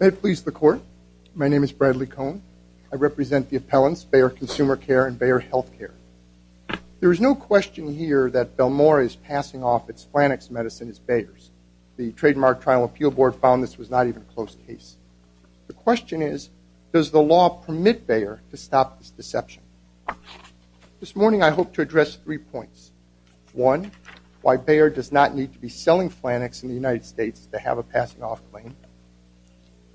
May it please the court, my name is Bradley Cohn. I represent the appellants, Bayer Consumer Care and Bayer Healthcare. There is no question here that Belmora is passing off its flannex medicine as Bayer's. The Trademark Trial Appeal Board found this was not even a close case. The question is, does the law permit Bayer to stop this deception? This morning I hope to address three points. One, why Bayer does not need to be selling flannex in the United States to have a passing off claim.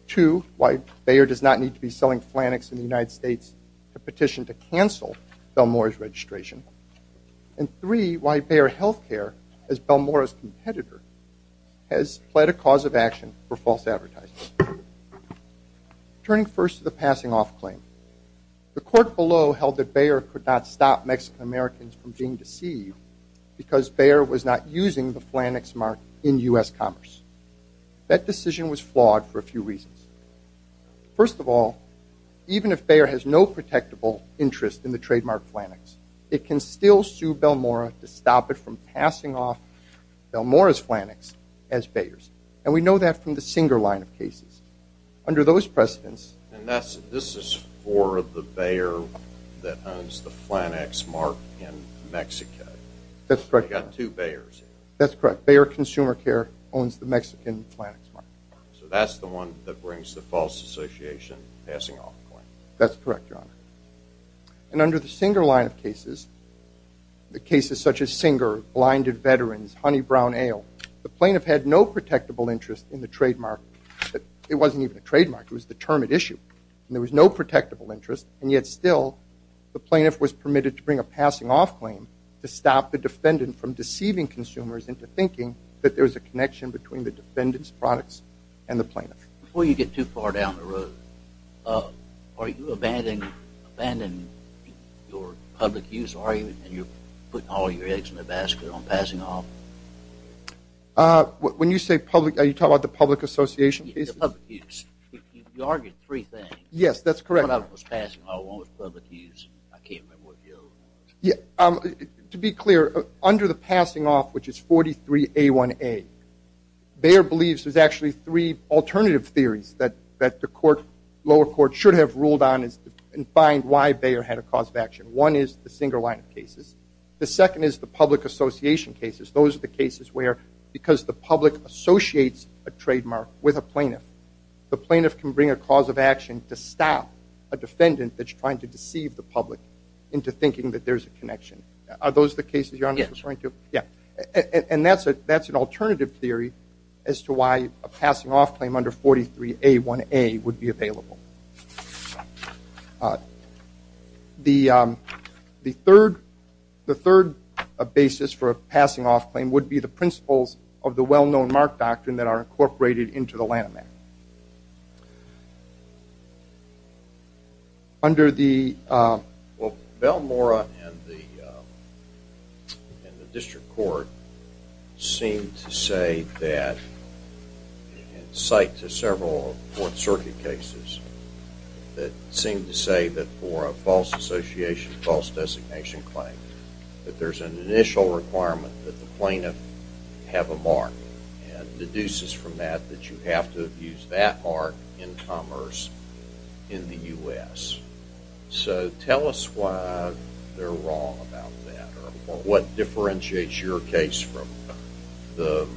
Two, why Bayer does not need to be selling flannex in the United States to petition to cancel Belmora's registration. And three, why Bayer Healthcare, as Belmora's competitor, has pled a cause of action for false advertising. Turning first to the passing off claim, the court below held that Bayer could not stop Mexican Americans from being deceived because Bayer was not using the flannex mark in U.S. commerce. That decision was flawed for a few reasons. First of all, even if Bayer has no protectable interest in the trademark flannex, it can still sue Belmora to stop it from passing off Belmora's flannex as Bayer's. And we know that from the Singer line of cases. Under those precedents... And this is for the Bayer that owns the flannex mark in Mexico. That's correct. You've got two Bayers. That's correct. Bayer Consumer Care owns the Mexican flannex mark. So that's the one that brings the false association passing off claim. That's correct, Your Honor. And under the Singer line of cases, the cases such as Singer, Blinded Veterans, Honey Brown Ale, the plaintiff had no protectable interest in the trademark. It wasn't even a trademark. It was the term at issue. And there was no protectable interest. And yet still, the plaintiff was permitted to bring a passing off claim to stop the defendant from deceiving consumers into thinking that there was a connection between the defendant's products and the plaintiff. Before you get too far down the road, are you abandoning your public use argument and you're putting all your eggs in the basket on passing off? When you say public, are you talking about the public association? Public use. You correct. To be clear, under the passing off, which is 43A1A, Bayer believes there's actually three alternative theories that the lower court should have ruled on and find why Bayer had a cause of action. One is the Singer line of cases. The second is the public association cases. Those are the cases where because the public associates a trademark with a plaintiff, the plaintiff can a cause of action to stop a defendant that's trying to deceive the public into thinking that there's a connection. Are those the cases your Honor is referring to? Yeah. And that's an alternative theory as to why a passing off claim under 43A1A would be available. The third basis for a passing off claim would be the principles of the well-known trademark doctrine that are incorporated into the Lanham Act. Under the... Well, Belmora and the District Court seem to say that, in sight to several Fourth Circuit cases, that seem to say that for a false association, false designation claim, that there's an initial requirement that the plaintiff have a mark and deduces from that that you have to use that mark in commerce in the U.S. So tell us why they're wrong about that or what differentiates your case from the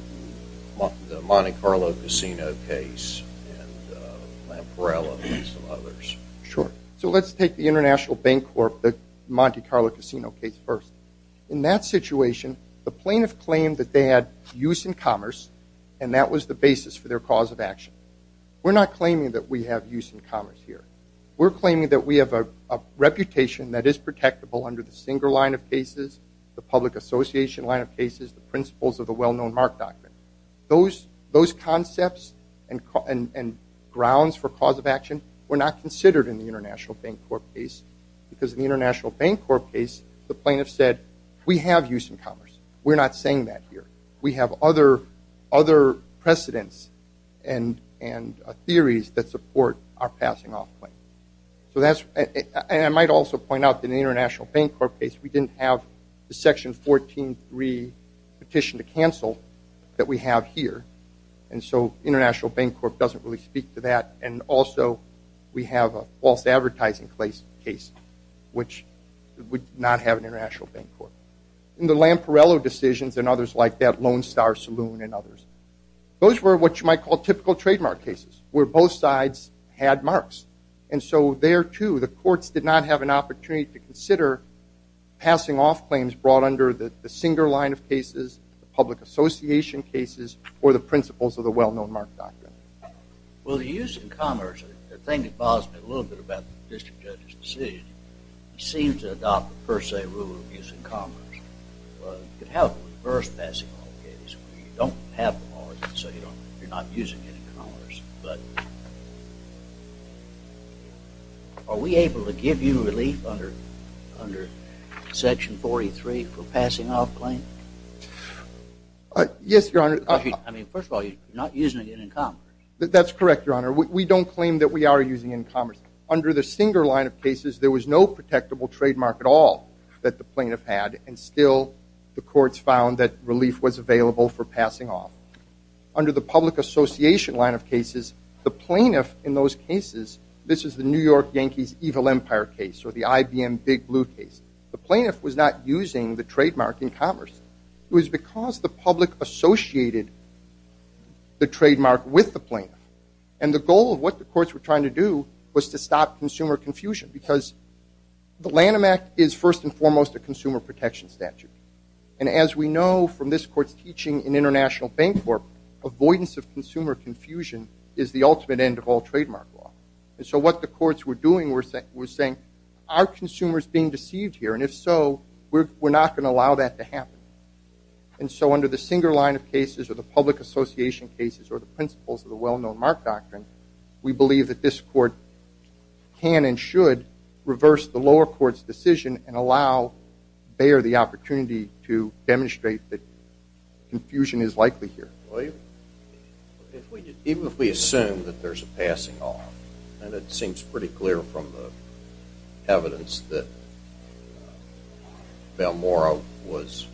Monte Carlo Casino case and Lamparella and some others. Sure. So let's take the International Bank Corp., the Monte Carlo Casino case first. In that situation, the plaintiff claimed that they had use in commerce and that was the basis for their cause of action. We're not claiming that we have use in commerce here. We're claiming that we have a reputation that is protectable under the Singer line of cases, the public association line of cases, the principles of the well-known mark doctrine. Those concepts and grounds for cause of action were not considered in the International Bank Corp. case because in the International Bank Corp. case, the plaintiff said we have use in commerce. We're not saying that here. We have other precedents and theories that support our passing off claim. I might also point out that in the International Bank Corp. case, we didn't have the section 14.3 petition to cancel that we have here, and so International Bank Corp. had a false advertising case, which would not have an International Bank Corp. In the Lamparella decisions and others like that Lone Star Saloon and others, those were what you might call typical trademark cases, where both sides had marks. And so there, too, the courts did not have an opportunity to consider passing off claims brought under the Singer line of cases, the public association cases, or the principles of the well-known mark doctrine. Well, the use in commerce, the thing that bothers me a little bit about the district judge's decision, he seemed to adopt the per se rule of use in commerce. You could have a reverse passing off case where you don't have the mark, so you're not using it in commerce, but are we able to give you relief under section 43 for passing off claim? Yes, Your Honor. I mean, first of all, you're not using it in commerce. That's correct, Your Honor. We don't claim that we are using in commerce. Under the Singer line of cases, there was no protectable trademark at all that the plaintiff had, and still the courts found that relief was available for passing off. Under the public association line of cases, the plaintiff in those cases, this is the New York Yankees' Evil Empire case or the IBM Big Blue case, the plaintiff was not using the trademark in commerce. It was because the public associated the trademark with the plaintiff, and the goal of what the courts were trying to do was to stop consumer confusion, because the Lanham Act is first and foremost a consumer protection statute, and as we know from this court's teaching in International Bank Corp., avoidance of consumer confusion is the ultimate end of all trademark law, and so what the courts were doing was saying, are consumers being deceived here, and if so, we're not going to allow that to happen, and so under the Singer line of cases or the public association cases or the principles of the well-known Mark Doctrine, we believe that this court can and should reverse the lower court's decision and allow Bayer the opportunity to demonstrate that confusion is pretty clear from the evidence that Balmoral was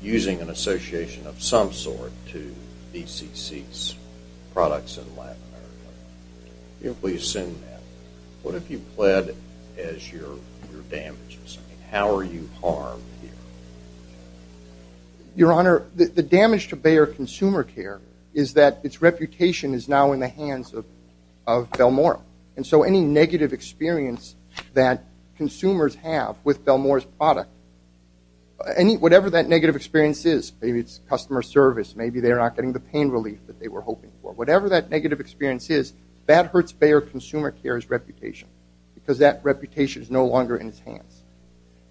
using an association of some sort to BCC's products in Latin America. If we assume that, what if you pled as your damages? How are you harmed here? Your Honor, the damage to Bayer Consumer Care is that its reputation is now in the hands of any negative experience that consumers have with Balmoral's product. Whatever that negative experience is, maybe it's customer service, maybe they're not getting the pain relief that they were hoping for, whatever that negative experience is, that hurts Bayer Consumer Care's reputation, because that reputation is no longer in its hands,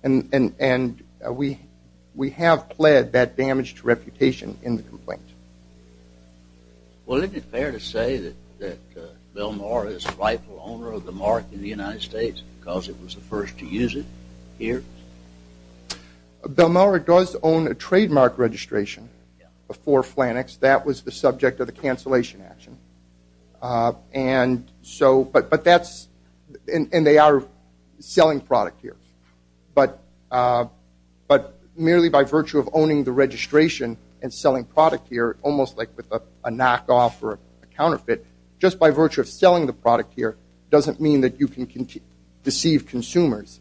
and we have pled that damaged reputation in the complaint. Well, isn't it fair to say that Balmoral is the rightful owner of the Mark in the United States, because it was the first to use it here? Balmoral does own a trademark registration before Flannex, that was the subject of the cancellation action, and so, but that's, and they are selling product here, but merely by virtue of owning the registration and selling product here, almost like with a knockoff or a counterfeit, just by virtue of selling the product here doesn't mean that you can deceive consumers.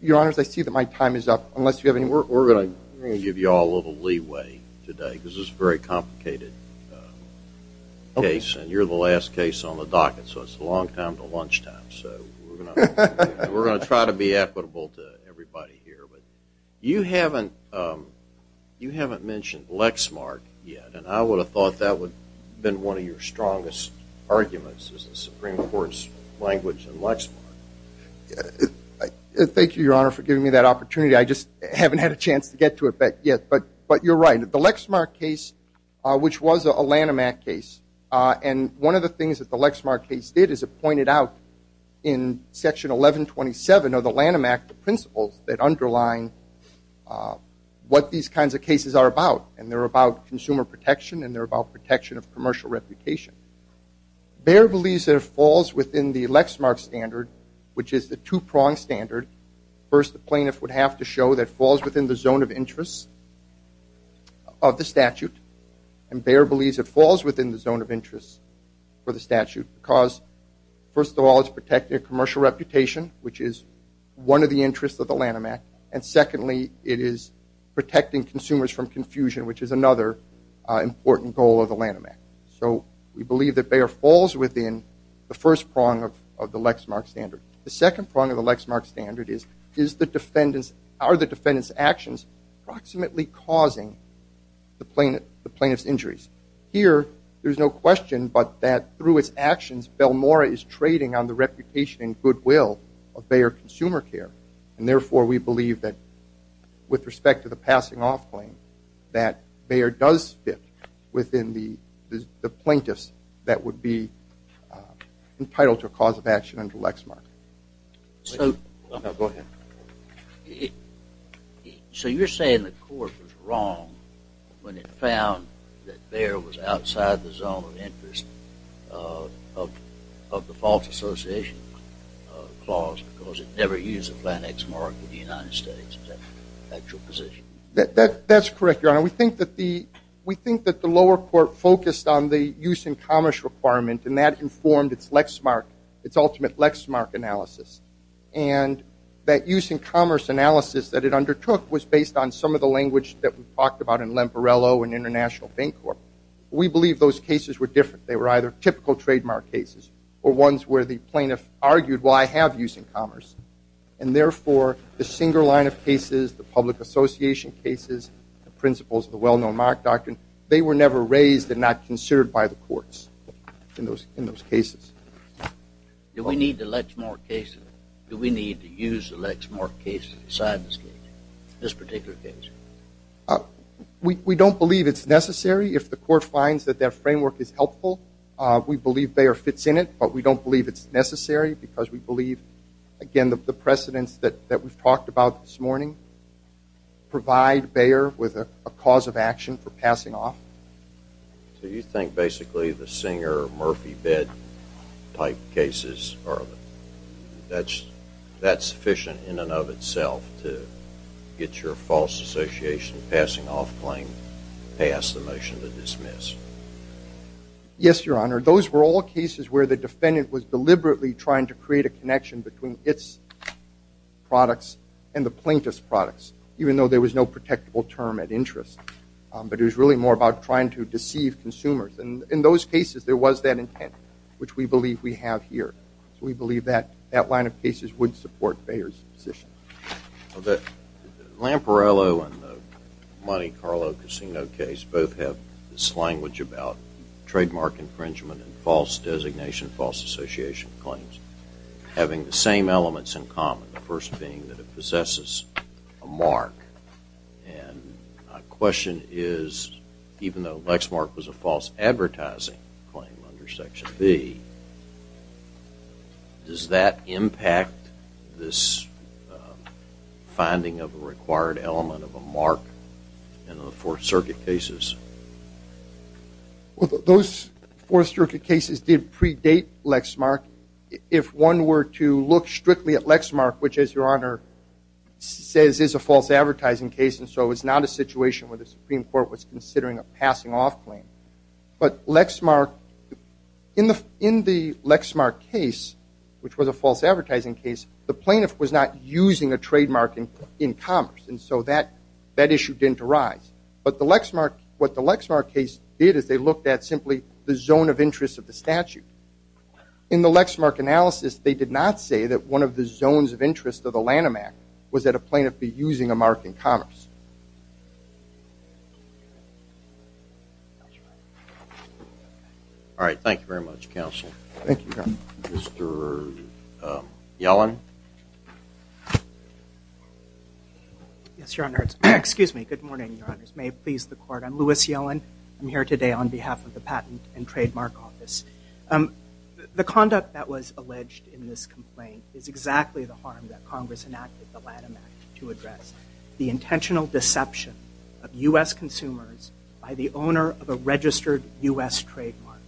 Your Honor, I see that my time is up, unless you have any, we're going to give you all a little leeway today, because this is a very complicated case, and you're the last case on the docket, so it's a long time to lunchtime, so we're going to try to be equitable to everybody here. You haven't mentioned Lexmark yet, and I would have thought that would have been one of your strongest arguments as a Supreme Court's language in Lexmark. Thank you, Your Honor, for giving me that opportunity. I just haven't had a chance to get to it yet, but you're right. The Lexmark case, which was a Lanham Act case, and one of the things that the Lexmark case did is it pointed out in Section 1127 of the Lanham Act, the principles that underline what these kinds of cases are about, and they're about consumer protection, and they're about protection of commercial reputation. Bayer believes it falls within the Lexmark standard, which is the two-pronged standard. First, the plaintiff would have to show that it falls within the zone of interest of the statute, and Bayer believes it falls within the zone of interest for the statute, because, first of all, it's protecting a commercial reputation, which is one of the interests of the Lanham Act, and secondly, it is protecting consumers from confusion, which is another important goal of the Lanham Act. So we believe that Bayer falls within the first prong of the Lexmark standard. The second prong of the Lexmark standard is, are the defendant's actions approximately causing the plaintiff's injuries? Here, there's no question but that through its actions, Belmora is trading on the reputation and goodwill of Bayer Consumer Care, and therefore, we believe that with respect to the passing off claim, that Bayer does fit within the plaintiffs that would be entitled to a cause of action under Lexmark. So you're saying the court was wrong when it found that Bayer was clause, because it never used a plant X mark in the United States? That's correct, Your Honor. We think that the lower court focused on the use in commerce requirement, and that informed its ultimate Lexmark analysis, and that use in commerce analysis that it undertook was based on some of the language that we talked about in Lemporello and International Bank Corp. We believe those cases were different. They were either typical trademark cases or ones where the plaintiff argued, well, I have use in commerce, and therefore, the single line of cases, the public association cases, the principles of the well-known mark doctrine, they were never raised and not considered by the courts in those cases. Do we need the Lexmark cases? Do we need to use the Lexmark cases inside this case, this particular case? We don't believe it's necessary. If the court finds that that framework is helpful, we believe Bayer fits in it, but we don't believe it's necessary, because we believe, again, the precedents that we've talked about this morning provide Bayer with a cause of action for passing off. So you think, basically, the Singer-Murphy-Bed type cases are sufficient in and of itself to get your false association passing off claim past the motion to dismiss? Yes, Your Honor. Those were all cases where the defendant was deliberately trying to create a connection between its products and the plaintiff's products, even though there was no protectable term at interest. But it was really more about trying to deceive consumers. And in those cases, there was that intent, which we believe we have here. So we believe that that line of cases would support Bayer's position. Well, the Lemporello and the Monte Carlo Casino case both have this language about trademark infringement and false designation, false association claims having the same elements in common, the first being that it possesses a mark. And my question is, even though Lexmark was a false advertising claim under Section B, does that impact this finding of a required element of a mark in the Fourth Circuit cases? Well, those Fourth Circuit cases did predate Lexmark. If one were to look strictly at Lexmark, which, as Your Honor says, is a false advertising case, and so it's not a situation where the Supreme Court was considering a passing off claim. But Lexmark, in the Lexmark case, which was a false advertising case, the plaintiff was not using a trademark in commerce. And so that issue didn't arise. But what the Lexmark case did is they looked at simply the zone of interest of the statute. In the Lexmark analysis, they did not say that one of the zones of interest of the Lanham Act was that a plaintiff be using a mark in commerce. All right. Thank you very much, Counsel. Thank you, Your Honor. Mr. Yellen? Yes, Your Honor. Excuse me. Good morning, Your Honors. May it please the Court. I'm Lewis Yellen. I'm here today on behalf of the Patent and Trademark Office. The conduct that was alleged in this complaint is exactly the harm that Congress enacted the Lanham Act to address. The intentional deception of U.S. consumers by the owner of a registered U.S. trademark.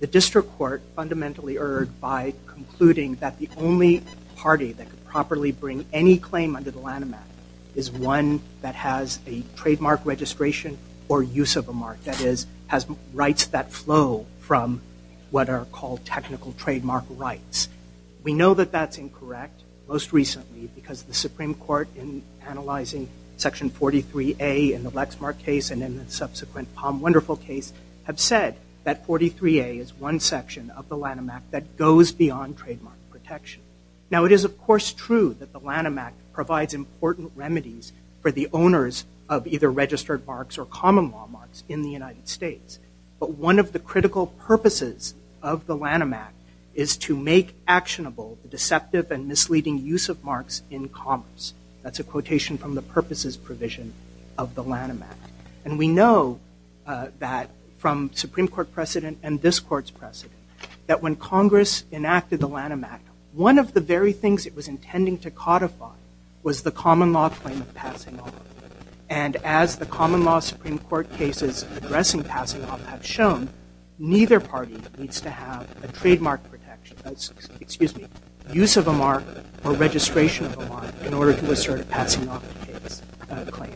The District Court fundamentally erred by concluding that the only party that could properly bring any claim under the Lanham Act is one that has a trademark registration or use of a mark, that is, rights that flow from what are called technical trademark rights. We know that that's incorrect most recently because the Supreme Court, in analyzing Section 43A in the Lexmark case and in the subsequent Palm Wonderful case, have said that 43A is one section of the Lanham Act that goes beyond trademark protection. Now, it is, of course, true that the Lanham Act provides important remedies for the owners of either registered marks or common law marks in the United States. But one of the critical purposes of the Lanham Act is to make actionable the deceptive and misleading use of marks in commerce. That's a quotation from the purposes provision of the Lanham Act. And we know that from Supreme Court precedent and this Court's precedent, that when Congress enacted the Lanham Act, one of the very things it was intending to codify was the common law claim of passing off. And as the common law Supreme Court cases addressing passing off have shown, neither party needs to have a trademark protection, excuse me, use of a mark or registration of a mark in order to assert a passing off claim.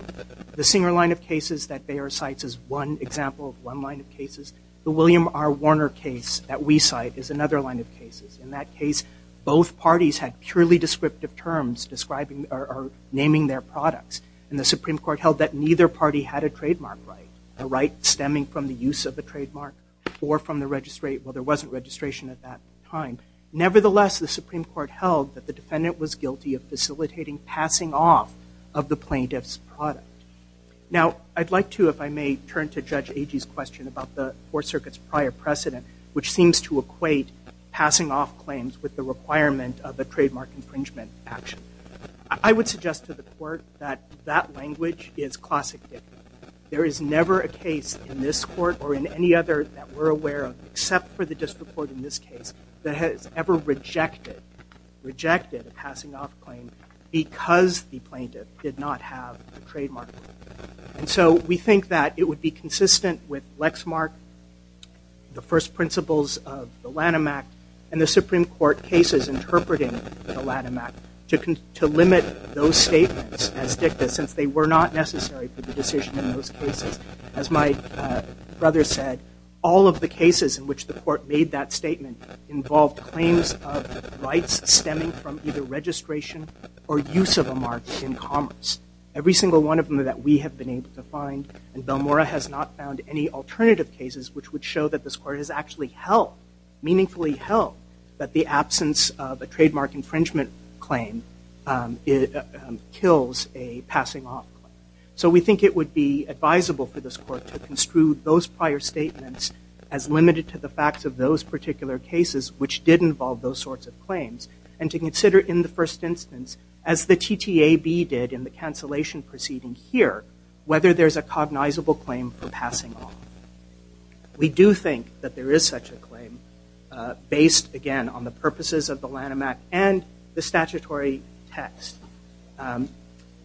The Singer line of cases that Bayer cites is one example of one line of cases. The William R. Warner case that we cite is another line of cases. In that case, both parties had purely descriptive terms describing or naming their products. And the Supreme Court held that neither party had a trademark right, a right stemming from the use of the trademark or from the registration. Well, there wasn't registration at that time. Nevertheless, the Supreme Court held that the defendant was guilty of facilitating passing off of the plaintiff's product. Now, I'd like to, if I may, turn to Judge Agee's question about the Fourth Circuit's prior precedent, which seems to equate passing off claims with the requirement of a trademark infringement action. I would suggest to the court that that language is classic dictum. There is never a case in this court or in any other that we're aware of, except for the district court in this case, that has ever rejected a passing off claim because the plaintiff did not have a trademark. And so we think that it would be consistent with Lattimac to limit those statements as dicta, since they were not necessary for the decision in those cases. As my brother said, all of the cases in which the court made that statement involved claims of rights stemming from either registration or use of a mark in commerce. Every single one of them that we have been able to find. And Belmora has not found any alternative cases which would show that this court has actually held, meaningfully held, that the absence of a trademark infringement claim kills a passing off claim. So we think it would be advisable for this court to construe those prior statements as limited to the facts of those particular cases, which did involve those sorts of claims, and to consider in the first instance, as the TTAB did in the cancellation proceeding here, whether there's a cognizable claim for passing off. We do think that there is such a claim based, again, on the purposes of the Lattimac and the statutory text.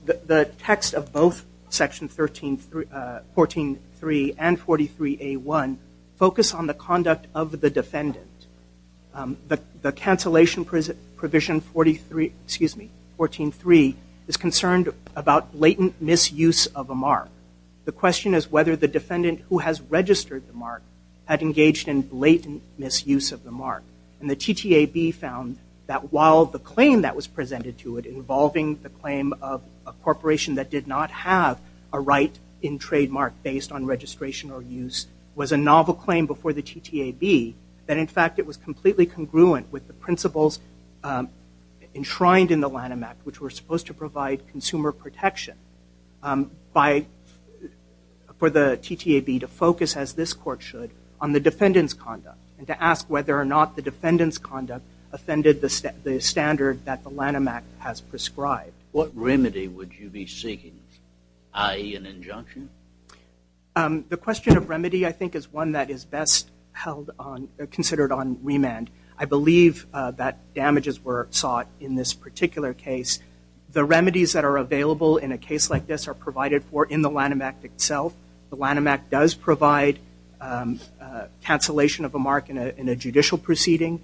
The text of both Section 14.3 and 43A.1 focus on the conduct of the defendant. The cancellation provision 43, excuse me, 14.3 is concerned about blatant misuse of a mark. The question is whether the defendant who has registered the mark had engaged in blatant misuse of the mark. And the TTAB found that while the claim that was presented to it involving the claim of a corporation that did not have a right in trademark based on registration or use was a novel claim before the TTAB, that in fact it was completely congruent with the principles enshrined in the Lattimac, which were supposed to provide consumer protection for the TTAB to focus, as this court should, on the defendant's conduct and to ask whether or not the defendant's conduct offended the standard that the Lattimac has prescribed. What remedy would you be seeking, i.e. an injunction? The question of remedy, I think, is one that is best considered on remand. I believe that damages were sought in this particular case. The remedies that are available in a case like this are provided for in the Lattimac itself. The Lattimac does provide cancellation of a mark in a judicial proceeding.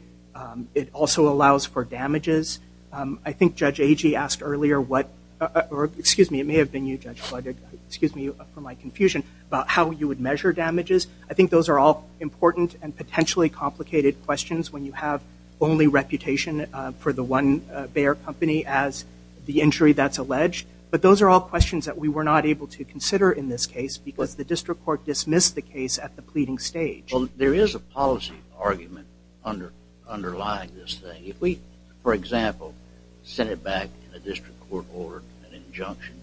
It also allows for damages. I think Judge Agee asked earlier what, or excuse me, it may have been you, Judge, excuse me for my confusion about how you would measure damages. I think those are all important and potentially complicated questions when you have only reputation for the one Bayer company as the injury that's alleged. But those are all questions that we were not able to consider in this case because the district court dismissed the case at the pleading stage. Well, there is a policy argument underlying this thing. If we, for example, sent it back in a district court order, an injunction,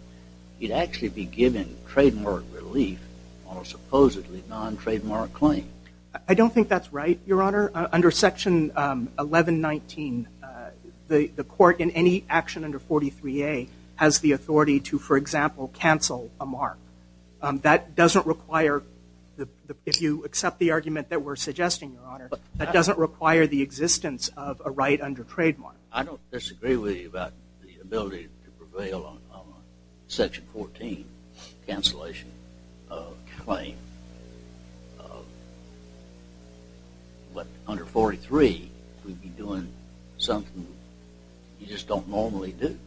you'd actually be giving trademark relief on a supposedly non-trademark claim. I don't think that's right, Your Honor. Under section 1119, the court in any action under 43a has the authority to, for example, cancel a mark. That doesn't require, if you accept the argument that we're suggesting, Your Honor, that doesn't require the existence of a right under trademark. I don't disagree with you about the ability to prevail on a section 14 cancellation claim. But under 43, we'd be doing something you just don't normally do.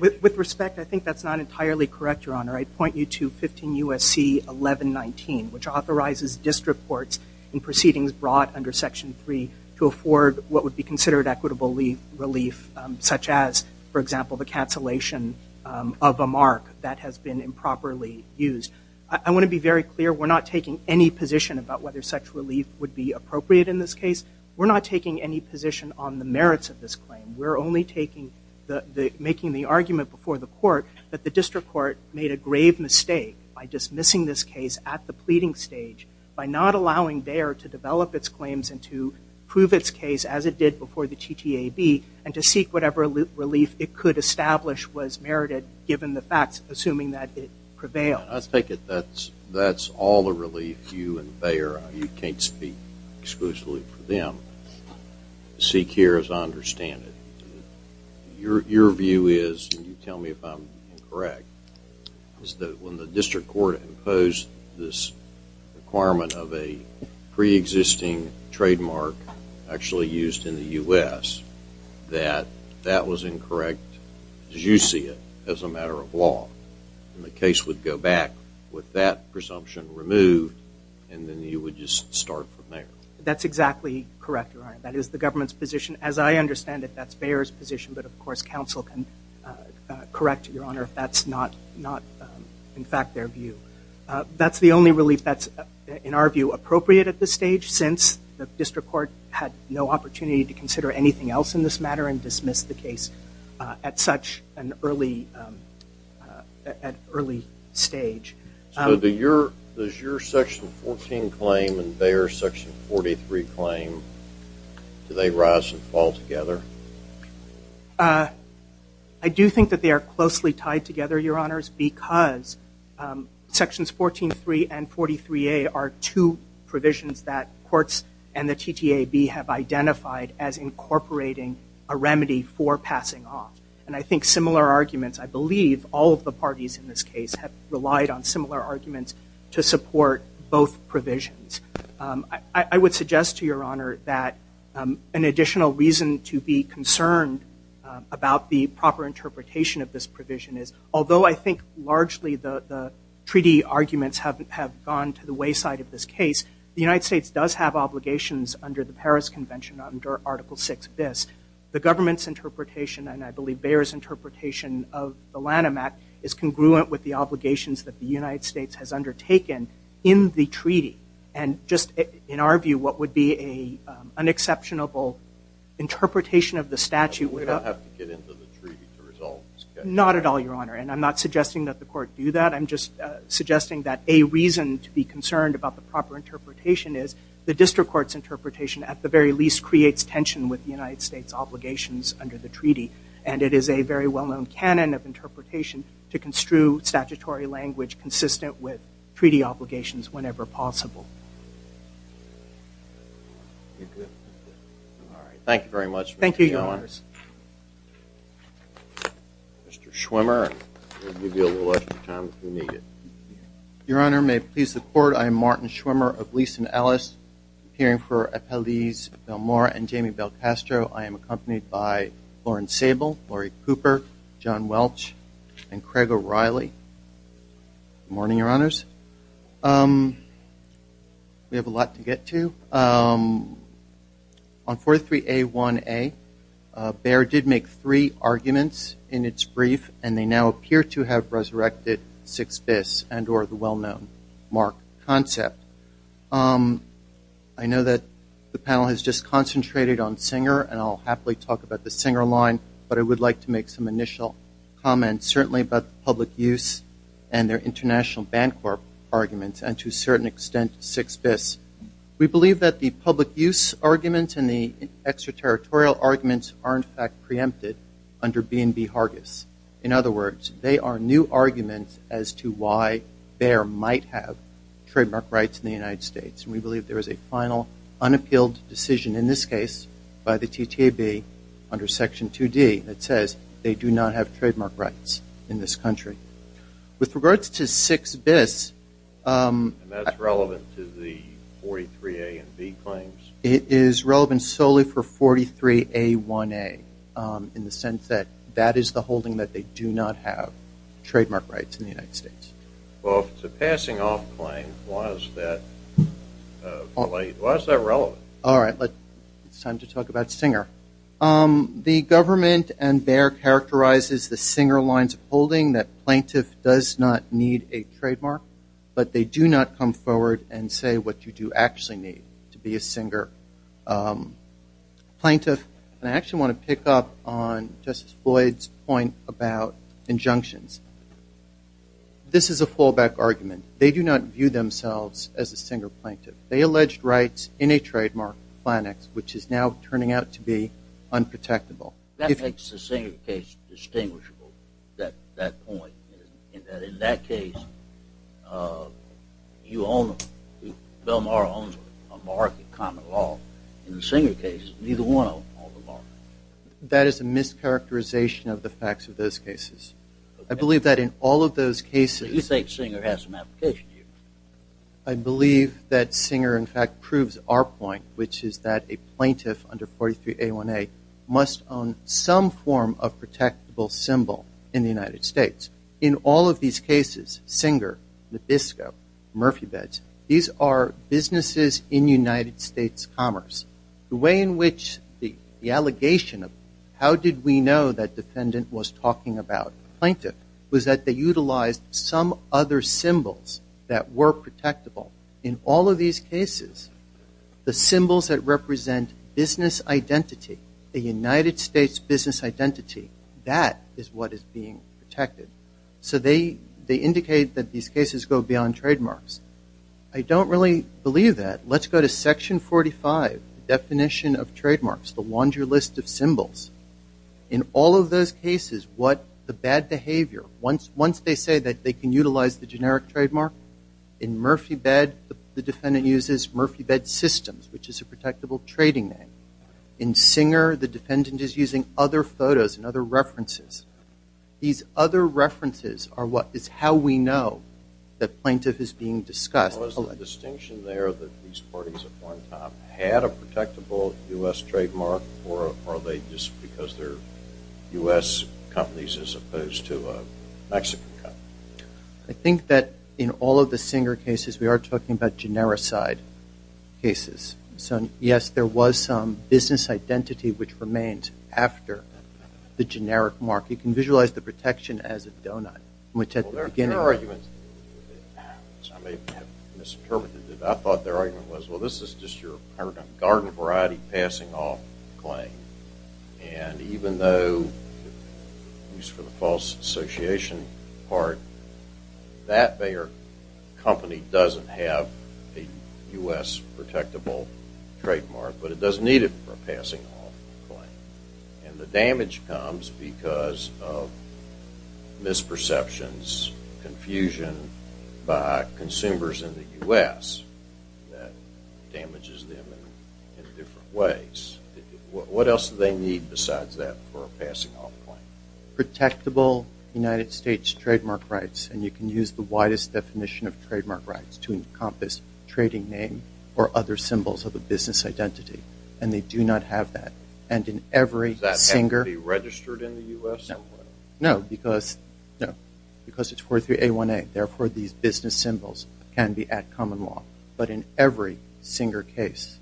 With respect, I think that's not entirely correct, Your Honor. I'd point you to 15 U.S.C. 1119, which authorizes district courts in proceedings brought under section 3 to afford what would be considered equitable relief, such as, for example, the cancellation of a mark that has been improperly used. I want to be very clear. We're not taking any position about whether such relief would be appropriate in this case. We're not taking any position on the merits of this claim. We're only making the argument before the court that the district court made a grave mistake by dismissing this case at the pleading stage by not allowing Bayer to develop its claims and to prove its case as it did before the TTAB and to seek whatever relief it could establish was merited, given the facts, assuming that it prevailed. I take it that's all the relief you and Bayer, you can't speak exclusively for them, seek here as I understand it. Your view is, and you tell me if I'm incorrect, is that when the district court imposed this requirement of a pre-existing trademark, actually used in the U.S., that that was incorrect as you see it as a matter of law and the case would go back with that presumption removed and then you would just start from there. That's exactly correct, Your Honor. That is the government's position. As I understand it, that's Bayer's position, but of course, counsel can correct, Your Honor, if that's not in fact their view. That's the only relief that's, in our view, appropriate at this stage since the district court had no opportunity to consider anything else in this matter and dismissed the case at such an early stage. So does your Section 14 claim and Bayer's Section 43 claim do they rise and fall together? I do think that they are closely tied together, Your Honors, because Sections 14.3 and 43A are two provisions that courts and the TTAB have identified as incorporating a remedy for passing off. And I think similar arguments, I believe all of the parties in this case have relied on similar arguments to support both provisions. I would suggest to Your Honor that an additional reason to be concerned about the proper interpretation of this provision is, although I think largely the treaty arguments have gone to the wayside of this case, the United States does have obligations under the Paris Convention under Article 6bis. The government's interpretation, and I believe Bayer's interpretation of the Lanham Act, is congruent with the obligations that the United States has undertaken in the treaty. And just in our view, what would be a unexceptionable interpretation of the statute... We don't have to get into the treaty to resolve this case. Not at all, Your Honor, and I'm not suggesting that the court do that. I'm just suggesting that a reason to be concerned about the proper interpretation is the district court's interpretation at the very least creates tension with the United States obligations under the treaty and it is a very well-known canon of interpretation to construe statutory language consistent with treaty obligations whenever possible. All right, thank you very much. Thank you, Your Honors. Mr. Schwimmer, we'll give you a little extra time if you need it. Your Honor, may it please the Court, I am Martin Schwimmer of Leeson Ellis, appearing for Appellees Belmore and Jamie Belcastro. I am accompanied by Lauren Sable, Laurie Cooper, John Welch, and Craig O'Reilly. Good morning, Your Honors. We have a lot to get to. On 43A1A, Bayer did make three arguments in its brief and they now appear to have resurrected 6bis and or the well-known mark concept. I know that the panel has just concentrated on Singer and I'll happily talk about the Singer line, but I would like to comment about the public use and their international Bancorp arguments and to a certain extent 6bis. We believe that the public use arguments and the extraterritorial arguments are in fact preempted under B&B Hargis. In other words, they are new arguments as to why Bayer might have trademark rights in the United States. We believe there is a final unappealed decision in this case by the TTAB under Section 2D that says they do not have trademark rights in this country. With regards to 6bis... And that's relevant to the 43A and B claims? It is relevant solely for 43A1A in the sense that that is the holding that they do not have trademark rights in the United States. Well, if it's a passing off claim, why is that relevant? All right. It's time to talk about Singer. The government and Bayer characterizes the Singer lines of holding that plaintiff does not need a trademark, but they do not come forward and say what you do actually need to be a Singer plaintiff. And I actually want to pick up on Justice Floyd's point about injunctions. This is a fallback argument. They do not view themselves as a Singer plaintiff. They alleged rights in a trademark plan X, which is now turning out to be unprotectable. That makes the Singer case distinguishable, that point. In that case, you own them. Belmar owns them, a market common law. In the Singer case, neither one of them are. That is a mischaracterization of the facts of those cases. I believe that in all of those cases... I believe that Singer, in fact, proves our point, which is that a plaintiff under 43 A1A must own some form of protectable symbol in the United States. In all of these cases, Singer, Nabisco, Murphy Beds, these are businesses in United States commerce. The way in which the allegation of how did we know that defendant was talking about plaintiff was that they utilized some other symbols that were protectable. In all of these cases, the symbols that represent business identity, the United States business identity, that is what is being protected. So they indicate that these cases go beyond trademarks. I don't really believe that. Let's go to section 45, definition of trademarks, the laundry list of symbols. In all of those cases, what the bad behavior, once they say that they can utilize the generic trademark, in Murphy Bed, the defendant uses Murphy Bed Systems, which is a protectable trading name. In Singer, the defendant is using other photos and other references. These other references are what is how we know that plaintiff is being discussed. Was the distinction there that these parties at one time had a protectable U.S. trademark, or are they just because they're U.S. companies as opposed to a Mexican company? I think that in all of the Singer cases, we are talking about generic side cases. Yes, there was some business identity which remains after the generic mark. You can visualize the as a doughnut, which at the beginning- Well, there are arguments. I may have misinterpreted it. I thought their argument was, well, this is just your garden variety passing off claim. And even though, at least for the false association part, that company doesn't have a U.S. protectable trademark, but it doesn't need it for a passing off claim. And the damage comes because of misperceptions, confusion by consumers in the U.S. that damages them in different ways. What else do they need besides that for a passing off claim? Protectable United States trademark rights. And you can use the widest definition of trademark rights to encompass trading name or other symbols of a business identity. And they do not have that. And in every Singer- Does that have to be registered in the U.S.? No, because it's 43A1A. Therefore, these business symbols can be at common law. But in every Singer case,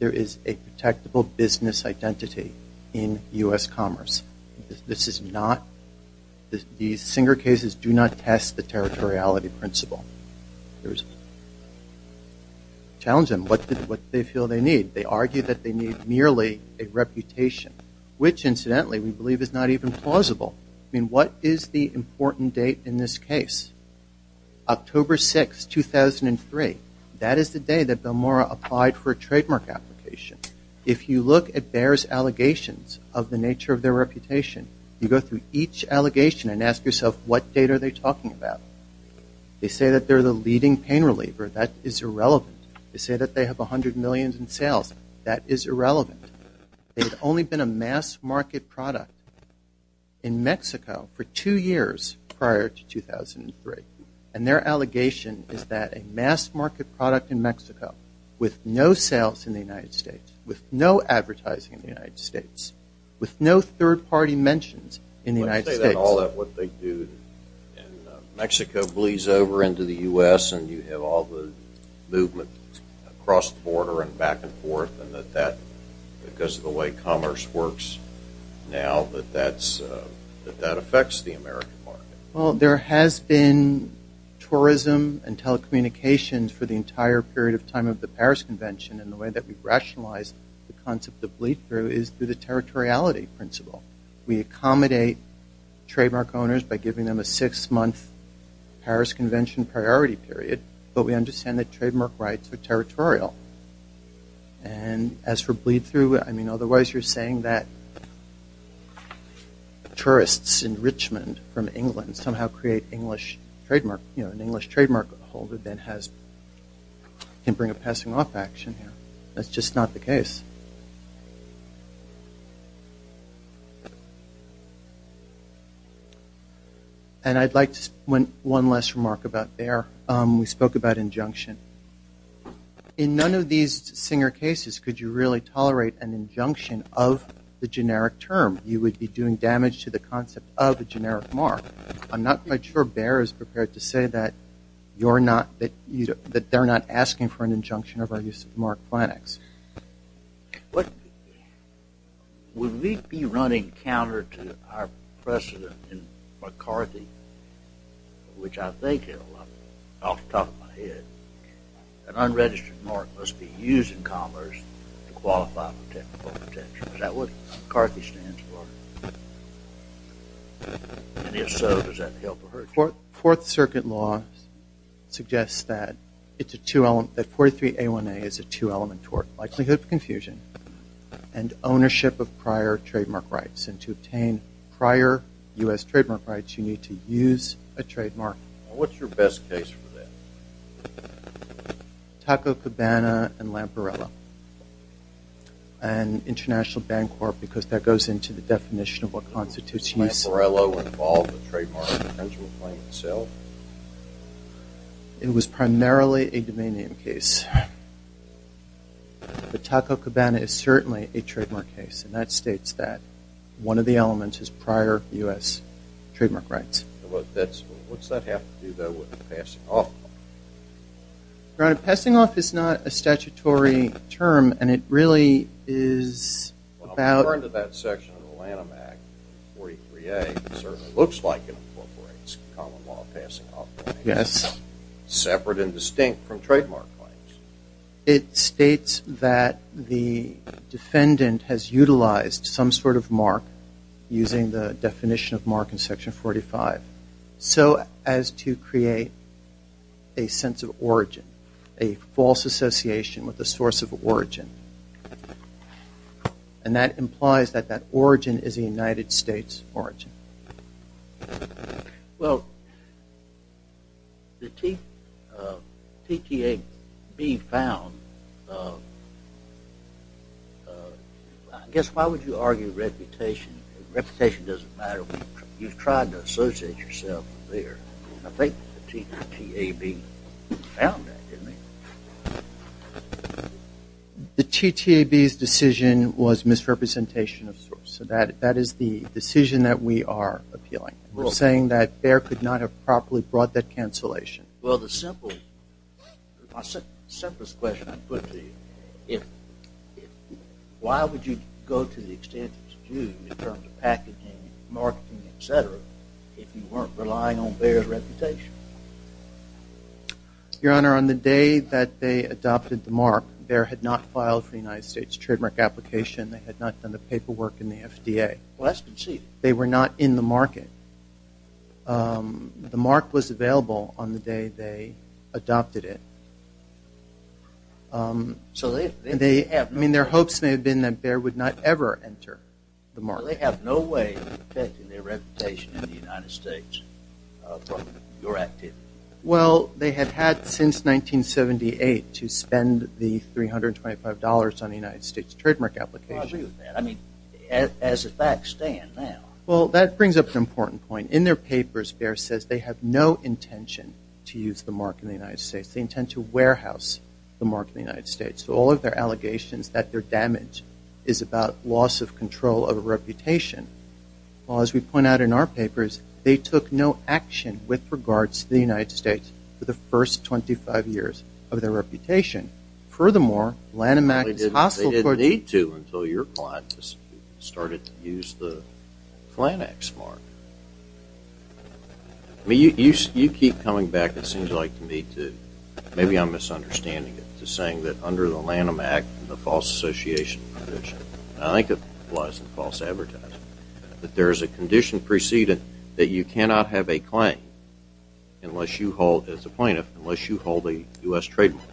there is a protectable business identity in U.S. commerce. This is not- These Singer cases do not test the territoriality principle. Challenge them. What do they feel they need? They argue that they need merely a reputation, which, incidentally, we believe is not even plausible. I mean, what is the important date in this case? October 6, 2003. That is the day that Bilmora applied for a trademark application. If you look at Bayer's allegations of the nature of their reputation, you go through each allegation and ask yourself, what date are they talking about? They say that they're the leading pain reliever. That is irrelevant. They say that they have 100 million in sales. That is irrelevant. They've only been a mass-market product in Mexico for two years prior to 2003. And their allegation is that a mass-market product in Mexico, with no sales in the United States, with no advertising in the United States, with no third-party mentions in the United States- Let's say that all of what they do in Mexico bleeds over into the U.S. and you have all the movement across the border and back and forth, and that that, because of the way commerce works now, that that affects the American market. Well, there has been tourism and telecommunications for the entire period of time of the Paris Convention. And the way that we've rationalized the concept of bleed-through is through the six-month Paris Convention priority period, but we understand that trademark rights are territorial. And as for bleed-through, I mean, otherwise you're saying that tourists in Richmond from England somehow create English trademark, you know, an English trademark holder then has- can bring a passing-off action here. That's just not the case. And I'd like to- one last remark about Bayer. We spoke about injunction. In none of these Singer cases could you really tolerate an injunction of the generic term. You would be doing damage to the concept of a generic mark. I'm not quite sure Bayer is prepared to say that you're not- that they're not asking for an injunction of our use of mark clinics. What- would we be running counter to our precedent in McCarthy, which I think off the top of my head, an unregistered mark must be used in commerce to qualify for technical protection. Is that what McCarthy stands for? And if so, does that help or hurt you? Fourth Circuit law suggests that it's a two-element- that 43A1A is a two-element likelihood of confusion and ownership of prior trademark rights. And to obtain prior U.S. trademark rights, you need to use a trademark. What's your best case for that? Taco Cabana and Lamparello. And International Bank Corp. because that goes into the definition of what constitutes use- Did Lamparello involve a trademark infringement claim itself? No. It was primarily a domain name case. But Taco Cabana is certainly a trademark case, and that states that one of the elements is prior U.S. trademark rights. What's that have to do with passing off? Passing off is not a statutory term, and it really is about- Yes. Separate and distinct from trademark claims. It states that the defendant has utilized some sort of mark using the definition of mark in Section 45 so as to create a sense of origin, a false association with the source of origin. And that implies that that origin is a United States origin. Well, the TTAB found- I guess why would you argue reputation? Reputation doesn't matter. You've tried to associate yourself there. I think the TTAB found that, didn't they? The TTAB's decision was misrepresentation of source. That is the decision that we are appealing. We're saying that Bayer could not have properly brought that cancellation. Well, the simplest question I'd put to you, why would you go to the extent that you do in terms of packaging, marketing, et cetera, if you weren't relying on Bayer's reputation? Your Honor, on the day that they adopted the mark, Bayer had not filed for the United States trademark application. They had not done the paperwork in the FDA. Well, that's conceded. They were not in the market. The mark was available on the day they adopted it. I mean, their hopes may have been that Bayer would not ever enter the market. They have no way of protecting their reputation in the United States from your activity. Well, they have had since 1978 to spend the $325 on the United States trademark application. I agree with that. I mean, as a back stand now. Well, that brings up an important point. In their papers, Bayer says they have no intention to use the mark in the United States. They intend to warehouse the mark in the United States. So all of their allegations that their damage is about loss of control of a reputation. Well, as we point out in our papers, they took no action with regards to the United States for the first 25 years of their reputation. Furthermore, Lanham Act is hostile towards- They didn't need to until your client started to use the Flannex mark. I mean, you keep coming back, it seems like, to me to, maybe I'm misunderstanding it, to saying that under the Lanham Act, the false association provision. I think it was false advertising. That there is a condition preceded that you cannot have a claim unless you hold, as a plaintiff, unless you hold a U.S. trademark.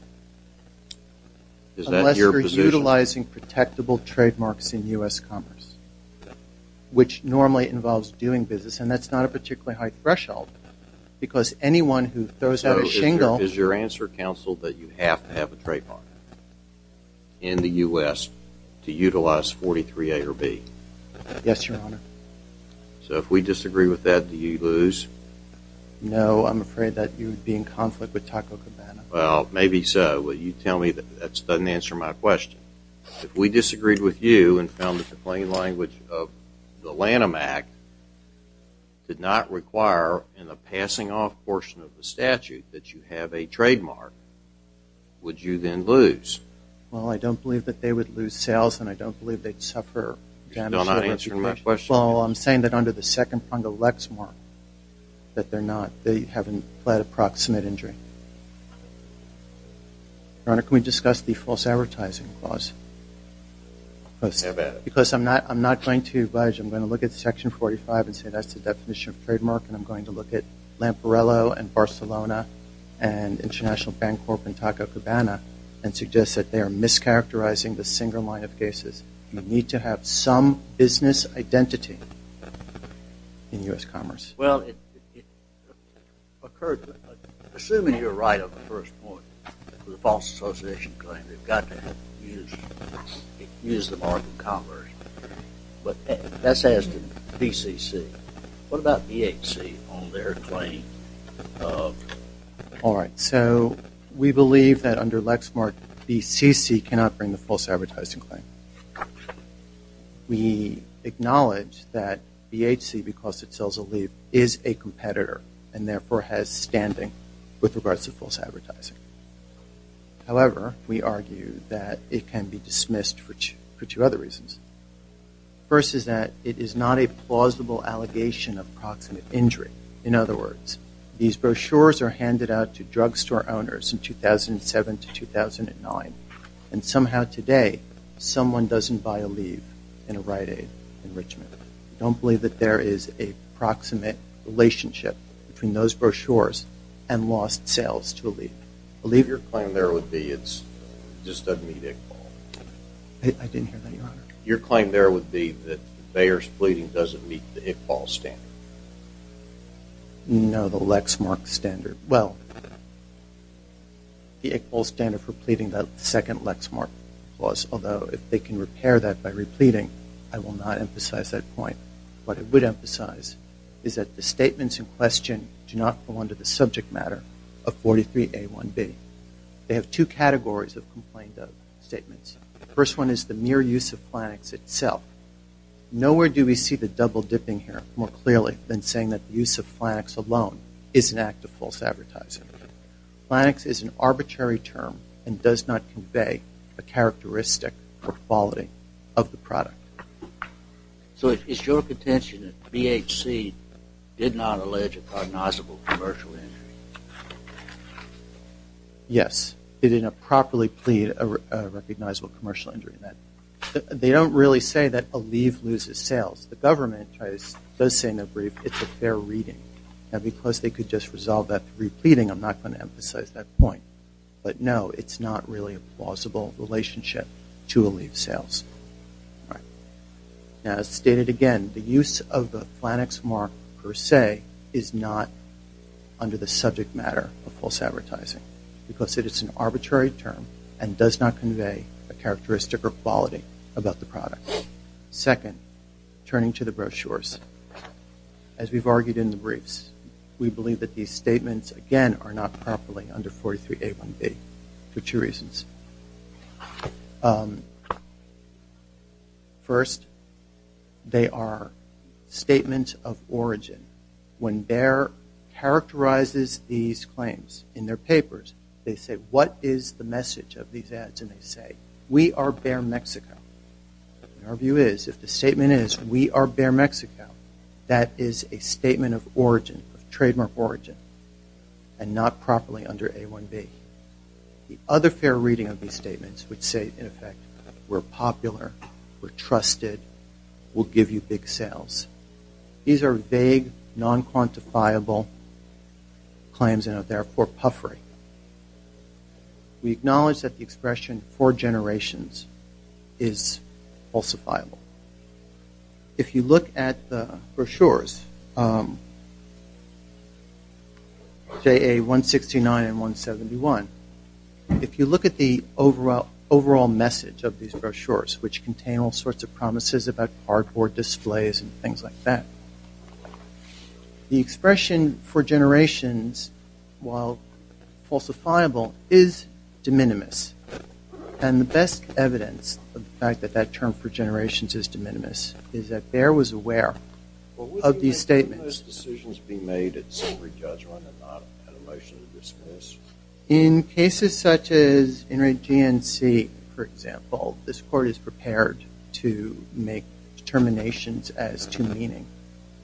Is that your position? Unless you're utilizing protectable trademarks in U.S. commerce, which normally involves doing business. And that's not a particularly high threshold because anyone who throws out a shingle- Is your answer, counsel, that you have to have a trademark in the U.S. to utilize 43A or B? Yes, your honor. So if we disagree with that, do you lose? No, I'm afraid that you would be in conflict with Taco Cabana. Well, maybe so, but you tell me that that doesn't answer my question. If we disagreed with you and found that the plain language of the Lanham Act did not require in the passing off portion of the statute that you have a trademark, would you then lose? Well, I don't believe that they would lose sales, and I don't believe they'd suffer damage- You're still not answering my question. Well, I'm saying that under the second prong of Lexmark, that they're not, they haven't fled approximate injury. Your honor, can we discuss the false advertising clause? Because I'm not, I'm not going to budge. I'm going to look at section 45 and say that's the definition of trademark, and I'm going to look at Lamparello and Barcelona and International Bank Corp and Taco Cabana and suggest that they are mischaracterizing the single line of cases. You need to have some business identity in U.S. commerce. Well, it occurred, assuming you're right on the first point, the false association claim, they've got to use the mark of commerce. But that's as to BCC. What about BHC on their claim of- All right. So we believe that under Lexmark, BCC cannot bring the false advertising claim. We acknowledge that BHC, because it sells a leaf, is a competitor and therefore has standing with regards to false advertising. However, we argue that it can be dismissed for two other reasons. First is that it is not a plausible allegation of proximate injury. In other words, these brochures are handed out to drugstore owners in 2007 to 2009, and somehow today someone doesn't buy a leaf in a Rite Aid enrichment. Don't believe that there is a proximate relationship between those brochures and lost sales to a leaf. Believe your claim there would be it's just a media call. I didn't hear that, Your Honor. Your claim there would be that the Bayer's pleading doesn't meet the Iqbal standard. No, the Lexmark standard. Well, the Iqbal standard for pleading the second Lexmark clause, although if they can repair that by repleting, I will not emphasize that point. What I would emphasize is that the statements in question do not fall under the subject matter of 43A1B. They have two categories of complaint of statements. The first one is the mere use of flannex itself. Nowhere do we see the double dipping here more clearly than saying that the use of flannex alone is an act of false advertising. Flannex is an arbitrary term and does not convey a characteristic or quality of the product. So it's your contention that BHC did not allege a prognosable commercial injury? Yes, they did not properly plead a recognizable commercial injury in that. They don't really say that Aleve loses sales. The government does say in their brief it's a fair reading. Now because they could just resolve that through pleading, I'm not going to emphasize that point. But no, it's not really a plausible relationship to Aleve sales. All right. Now as stated again, the use of the flannex mark per se is not under the subject matter of false advertising because it is an arbitrary term and does not convey a characteristic or quality about the product. Second, turning to the brochures, as we've argued in the briefs, we believe that these statements again are not properly under 43A1B for two reasons. First, they are statements of origin. When Bayer characterizes these claims in their papers, they say, what is the message of these ads? And they say, we are Bayer Mexico. Our view is if the statement is we are Bayer Mexico, that is a statement of origin, of trademark origin, and not properly under A1B. The other fair reading of these statements would say, in effect, we're popular, we're trusted, we'll give you big sales. These are vague, non-quantifiable claims and are therefore puffery. We acknowledge that the expression for generations is falsifiable. If you look at the brochures, JA169 and 171, if you look at the overall message of these brochures, which contain all sorts of promises about cardboard displays and things like that, the expression for generations, while falsifiable, is de minimis. And the best evidence of the fact that that term for generations is de minimis is that Bayer was aware of these statements. Would those decisions be made at summary judgment and not at a motion to dismiss? In cases such as NRAGNC, for example, this court is prepared to make determinations as to meaning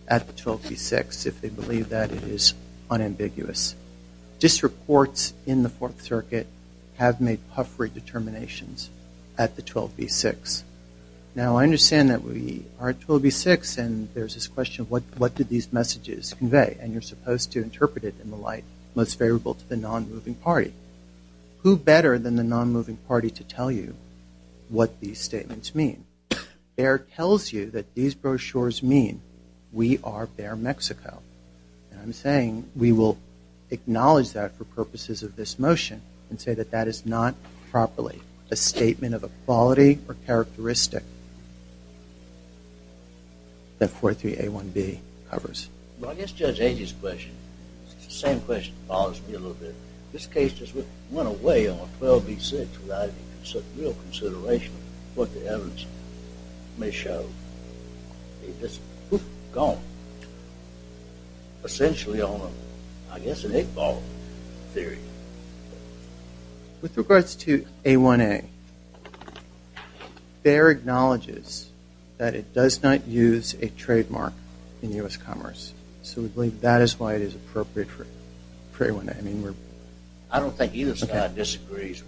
at the 1236 if they believe that it is unambiguous. District courts in the Fourth Circuit have made puffery determinations at the 12B6. Now, I understand that we are at 12B6 and there's this question, what did these messages convey? And you're supposed to interpret it in the light most favorable to the non-moving party. Who better than the non-moving party to tell you what these statements mean? Bayer tells you that these brochures mean we are Bayer, Mexico. And I'm saying we will acknowledge that for purposes of this motion and say that that is not properly a statement of a quality or characteristic that 43A1B covers. Well, I guess Judge Agee's question is the same question that bothers me a little bit. This case just went away on 12B6 without any real consideration of what the evidence may show. It's just gone essentially on, I guess, an eight ball theory. With regards to A1A, Bayer acknowledges that it does not use a trademark in U.S. commerce. So we believe that is why it is appropriate for A1A. I mean, I don't think either side disagrees.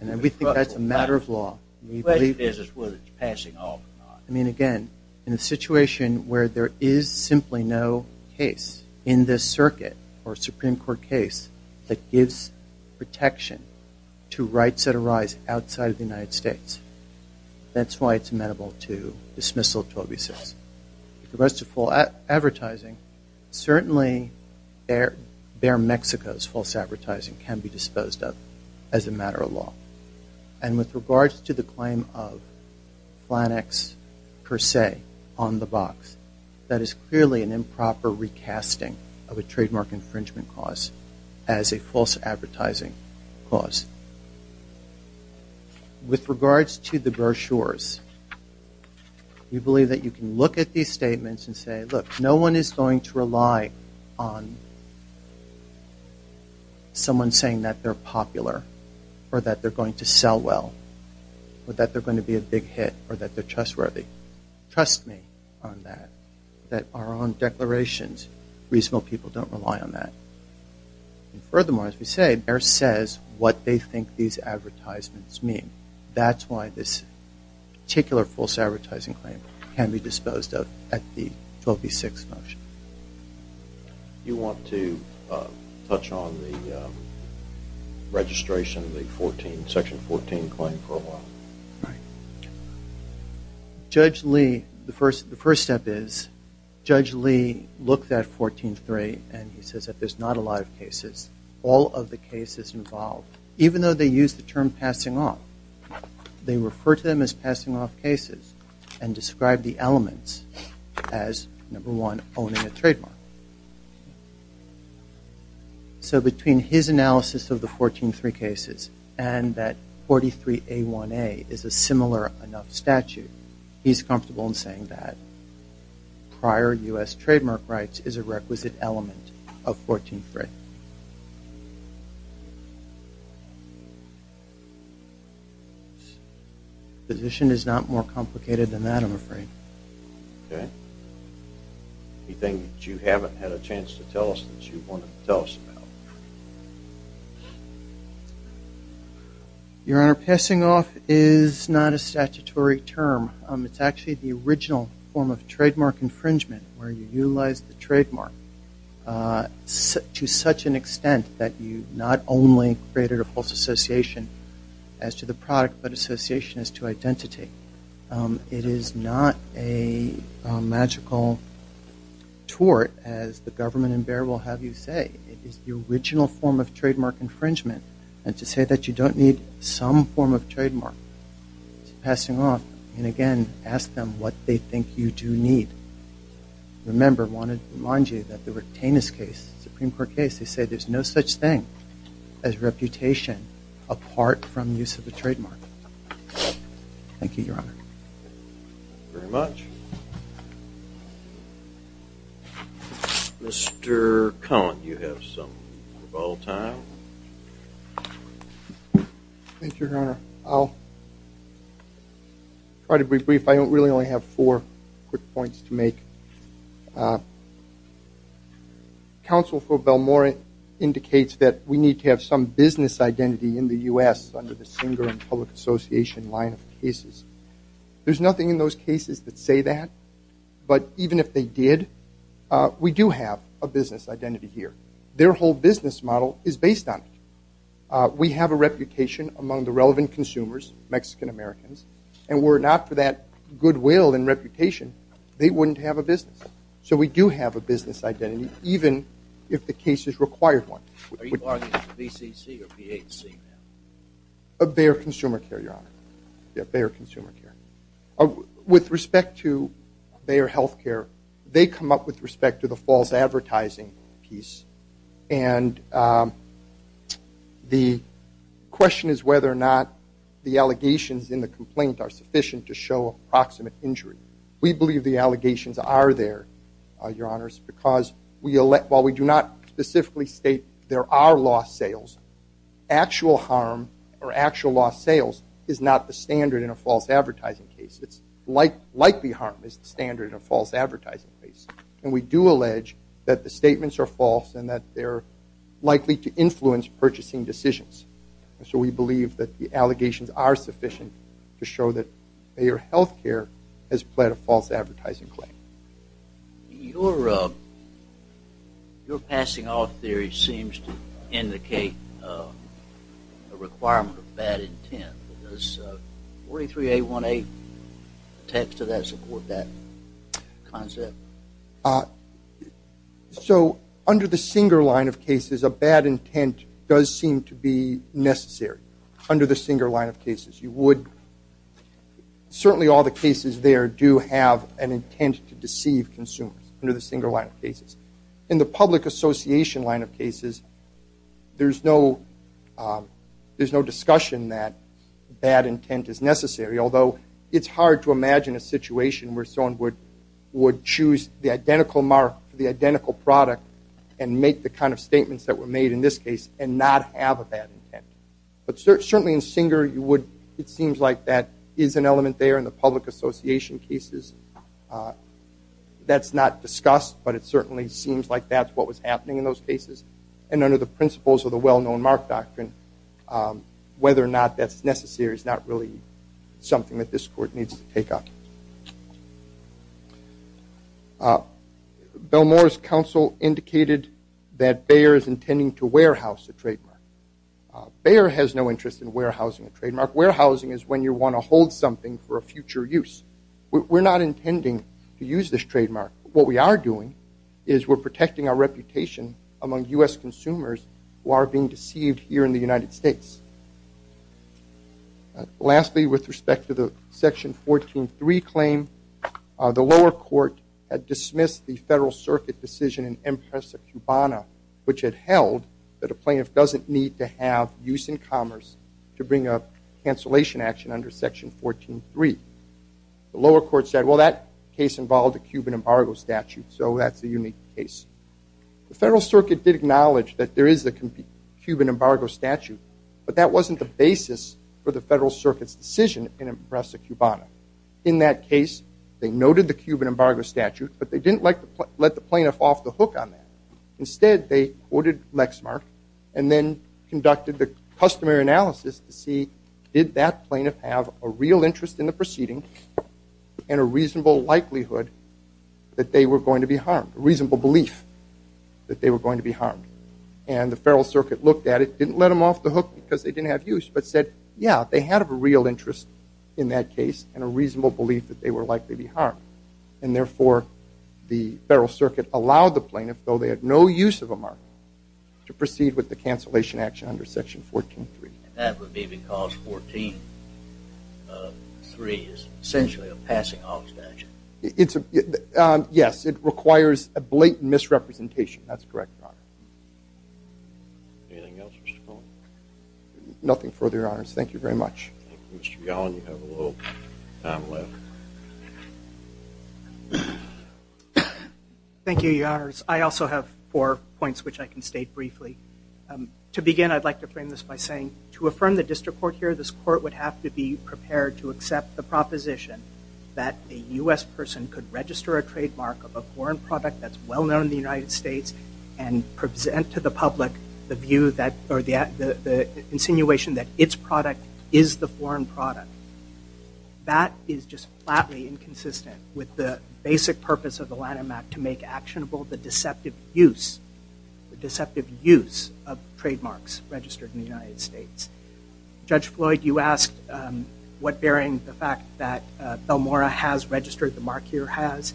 And we think that's a matter of law. The question is whether it's passing off or not. Again, in a situation where there is simply no case in this circuit or Supreme Court case that gives protection to rights that arise outside of the United States, that's why it's amenable to dismissal of 12B6. With regards to false advertising, certainly Bayer, Mexico's false advertising can be disposed of as a matter of law. And with regards to the claim of Flannex per se on the box, that is clearly an improper recasting of a trademark infringement cause as a false advertising cause. With regards to the brochures, we believe that you can look at these statements and say, sell well or that they're going to be a big hit or that they're trustworthy. Trust me on that. That our own declarations, reasonable people don't rely on that. And furthermore, as we say, Bayer says what they think these advertisements mean. That's why this particular false advertising claim can be disposed of at the 12B6 motion. Do you want to touch on the registration of the 14, section 14 claim for a while? Right. Judge Lee, the first step is, Judge Lee looked at 14-3 and he says that there's not a lot of cases. All of the cases involved, even though they use the term passing off, they refer to them as passing off cases and describe the elements as number one, owning a trademark. So between his analysis of the 14-3 cases and that 43A1A is a similar enough statute, he's comfortable in saying that prior U.S. trademark rights is a requisite element of 14-3. The position is not more complicated than that, I'm afraid. Okay. Anything that you haven't had a chance to tell us that you want to tell us about? Your Honor, passing off is not a statutory term. It's actually the original form of trademark infringement where you utilize the trademark to such an extent that you not only created a false association as to the product, but association is to identity. It is not a magical tort, as the government in Bexar will have you say. It is the original form of trademark infringement. And to say that you don't need some form of trademark to passing off, and again, ask them what they think you do need. Remember, I wanted to remind you that the Rectanus case, Supreme Court case, they say there's no such thing as reputation apart from use of a trademark. Thank you, Your Honor. Very much. Mr. Cullen, you have some rebuttal time. Thank you, Your Honor. I'll try to be brief. I really only have four quick points to make. Counsel for Belmore indicates that we need to have some business identity in the U.S. under the Singer and Public Association line of cases. There's nothing in those cases that say that. But even if they did, we do have a business identity here. Their whole business model is based on it. We have a reputation among the relevant consumers, Mexican-Americans, and were it not for that goodwill and reputation, they wouldn't have a business. So we do have a business identity, even if the case is required one. Are you arguing VCC or VHC? Bayer Consumer Care, Your Honor. Bayer Consumer Care. With respect to Bayer Health Care, they come up with respect to the false advertising piece. And the question is whether or not the allegations in the complaint are sufficient to show approximate injury. We believe the allegations are there, Your Honors, because while we do not specifically state there are lost sales, actual harm or actual lost sales is not the standard in a false advertising case. It's likely harm is the standard in a false advertising case. And we do allege that the statements are false and that they're likely to influence purchasing decisions. So we believe that the allegations are sufficient to show that Bayer Health Care has pled a false advertising claim. Your passing off theory seems to indicate a requirement of bad intent. Does 43A18 text to that support that concept? So under the Singer line of cases, a bad intent does seem to be necessary under the Singer line of cases. You would certainly all the cases there do have an intent to deceive consumers under the Singer line of cases. In the public association line of cases, there's no discussion that bad intent is necessary, although it's hard to imagine a situation where someone would choose the identical mark for the identical product and make the kind of statements that were made in this case and not have a bad intent. But certainly in Singer, it seems like that is an element there in the public association cases. That's not discussed, but it certainly seems like that's what was happening in those cases. And under the principles of the well-known mark doctrine, whether or not that's necessary is not really something that this court needs to take up. Bill Moore's counsel indicated that Bayer is intending to warehouse a trademark. Bayer has no interest in warehousing a trademark. Warehousing is when you want to hold something for a future use. We're not intending to use this trademark. What we are doing is we're protecting our reputation among U.S. consumers who are being deceived here in the United States. Lastly, with respect to the Section 14.3 claim, the lower court had dismissed the Federal Circuit decision in Empresa Cubana, which had held that a plaintiff doesn't need to have use in commerce to bring up cancellation action under Section 14.3. The lower court said, well, that case involved a Cuban embargo statute, so that's a unique case. The Federal Circuit did acknowledge that there is a Cuban embargo statute, but that wasn't the basis for the Federal Circuit's decision in Empresa Cubana. In that case, they noted the Cuban embargo statute, but they didn't let the plaintiff off the hook on that. Instead, they quoted Lexmark and then conducted the customary analysis to see did that plaintiff have a real interest in the proceeding and a reasonable likelihood that they were going to be harmed, a reasonable belief that they were going to be harmed. And the Federal Circuit looked at it, didn't let them off the hook because they didn't have use, but said, yeah, they had a real interest in that case and a reasonable belief that they were likely to be harmed. And therefore, the Federal Circuit allowed the plaintiff, though they had no use of a mark, to proceed with the cancellation action under Section 14.3. That would be because 14.3 is essentially a passing-off statute. Yes, it requires a blatant misrepresentation. That's correct, Your Honor. Anything else, Mr. Cohen? Nothing further, Your Honors. Thank you very much. Thank you, Mr. Gallin. You have a little time left. Thank you, Your Honors. I also have four points which I can state briefly. To begin, I'd like to frame this by saying, to affirm the district court here, this court would have to be prepared to accept the proposition that a U.S. person could register a trademark of a foreign product that's well-known in the United States and present to the public the view or the insinuation that its product is the foreign product. That is just flatly inconsistent with the basic purpose of the Lanham Act to make actionable the deceptive use of trademarks registered in the United States. Judge Floyd, you asked what bearing the fact that Belmora has registered the mark here has.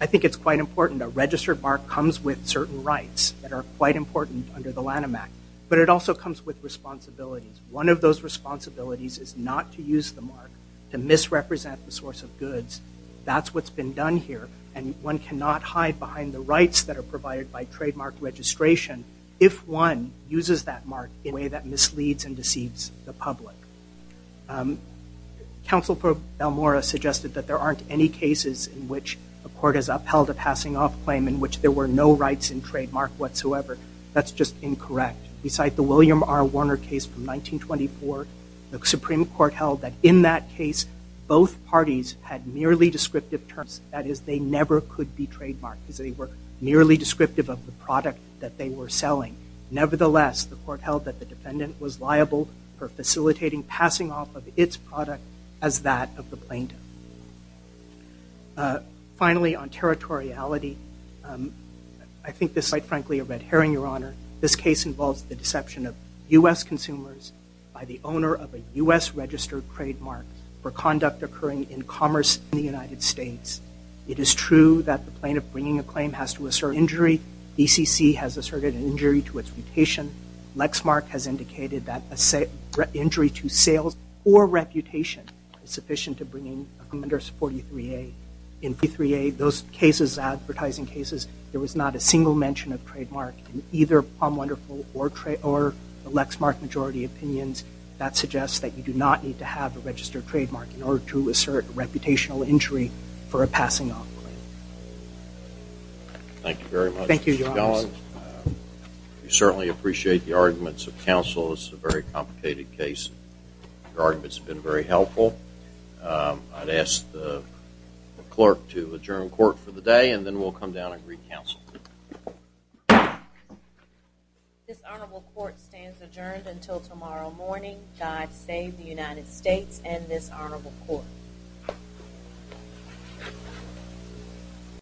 I think it's quite important. A registered mark comes with certain rights that are quite important under the Lanham Act, but it also comes with responsibilities. One of those responsibilities is not to use the mark to misrepresent the source of goods. That's what's been done here, and one cannot hide behind the rights that are provided by trademark registration if one uses that mark in a way that misleads and deceives the public. Counsel for Belmora suggested that there aren't any cases in which a court has upheld a passing off claim in which there were no rights in trademark whatsoever. That's just incorrect. Beside the William R. Warner case from 1924, the Supreme Court held that in that case, both parties had merely descriptive terms. That is, they never could be trademarked because they were merely descriptive of the product that they were selling. Nevertheless, the court held that the defendant was liable for facilitating passing off of its product as that of the plaintiff. Finally, on territoriality, I think this is quite frankly a red herring, Your Honor. This case involves the deception of U.S. consumers by the owner of a U.S. registered trademark for conduct occurring in commerce in the United States. It is true that the plaintiff bringing a claim has to assert injury. BCC has asserted an injury to its reputation. Lexmark has indicated that an injury to sales or reputation is sufficient to bring a commender to 43A. In 43A, those cases, advertising cases, there was not a single mention of trademark in either Palm Wonderful or Lexmark majority opinions. That suggests that you do not need to have a registered trademark in order to assert a reputational injury for a passing off. Thank you very much. Thank you, Your Honor. We certainly appreciate the arguments of counsel. This is a very complicated case. Your argument's been very helpful. I'd ask the clerk to adjourn court for the day, and then we'll come down and re-counsel. This honorable court stands adjourned until tomorrow morning. God save the United States and this honorable court.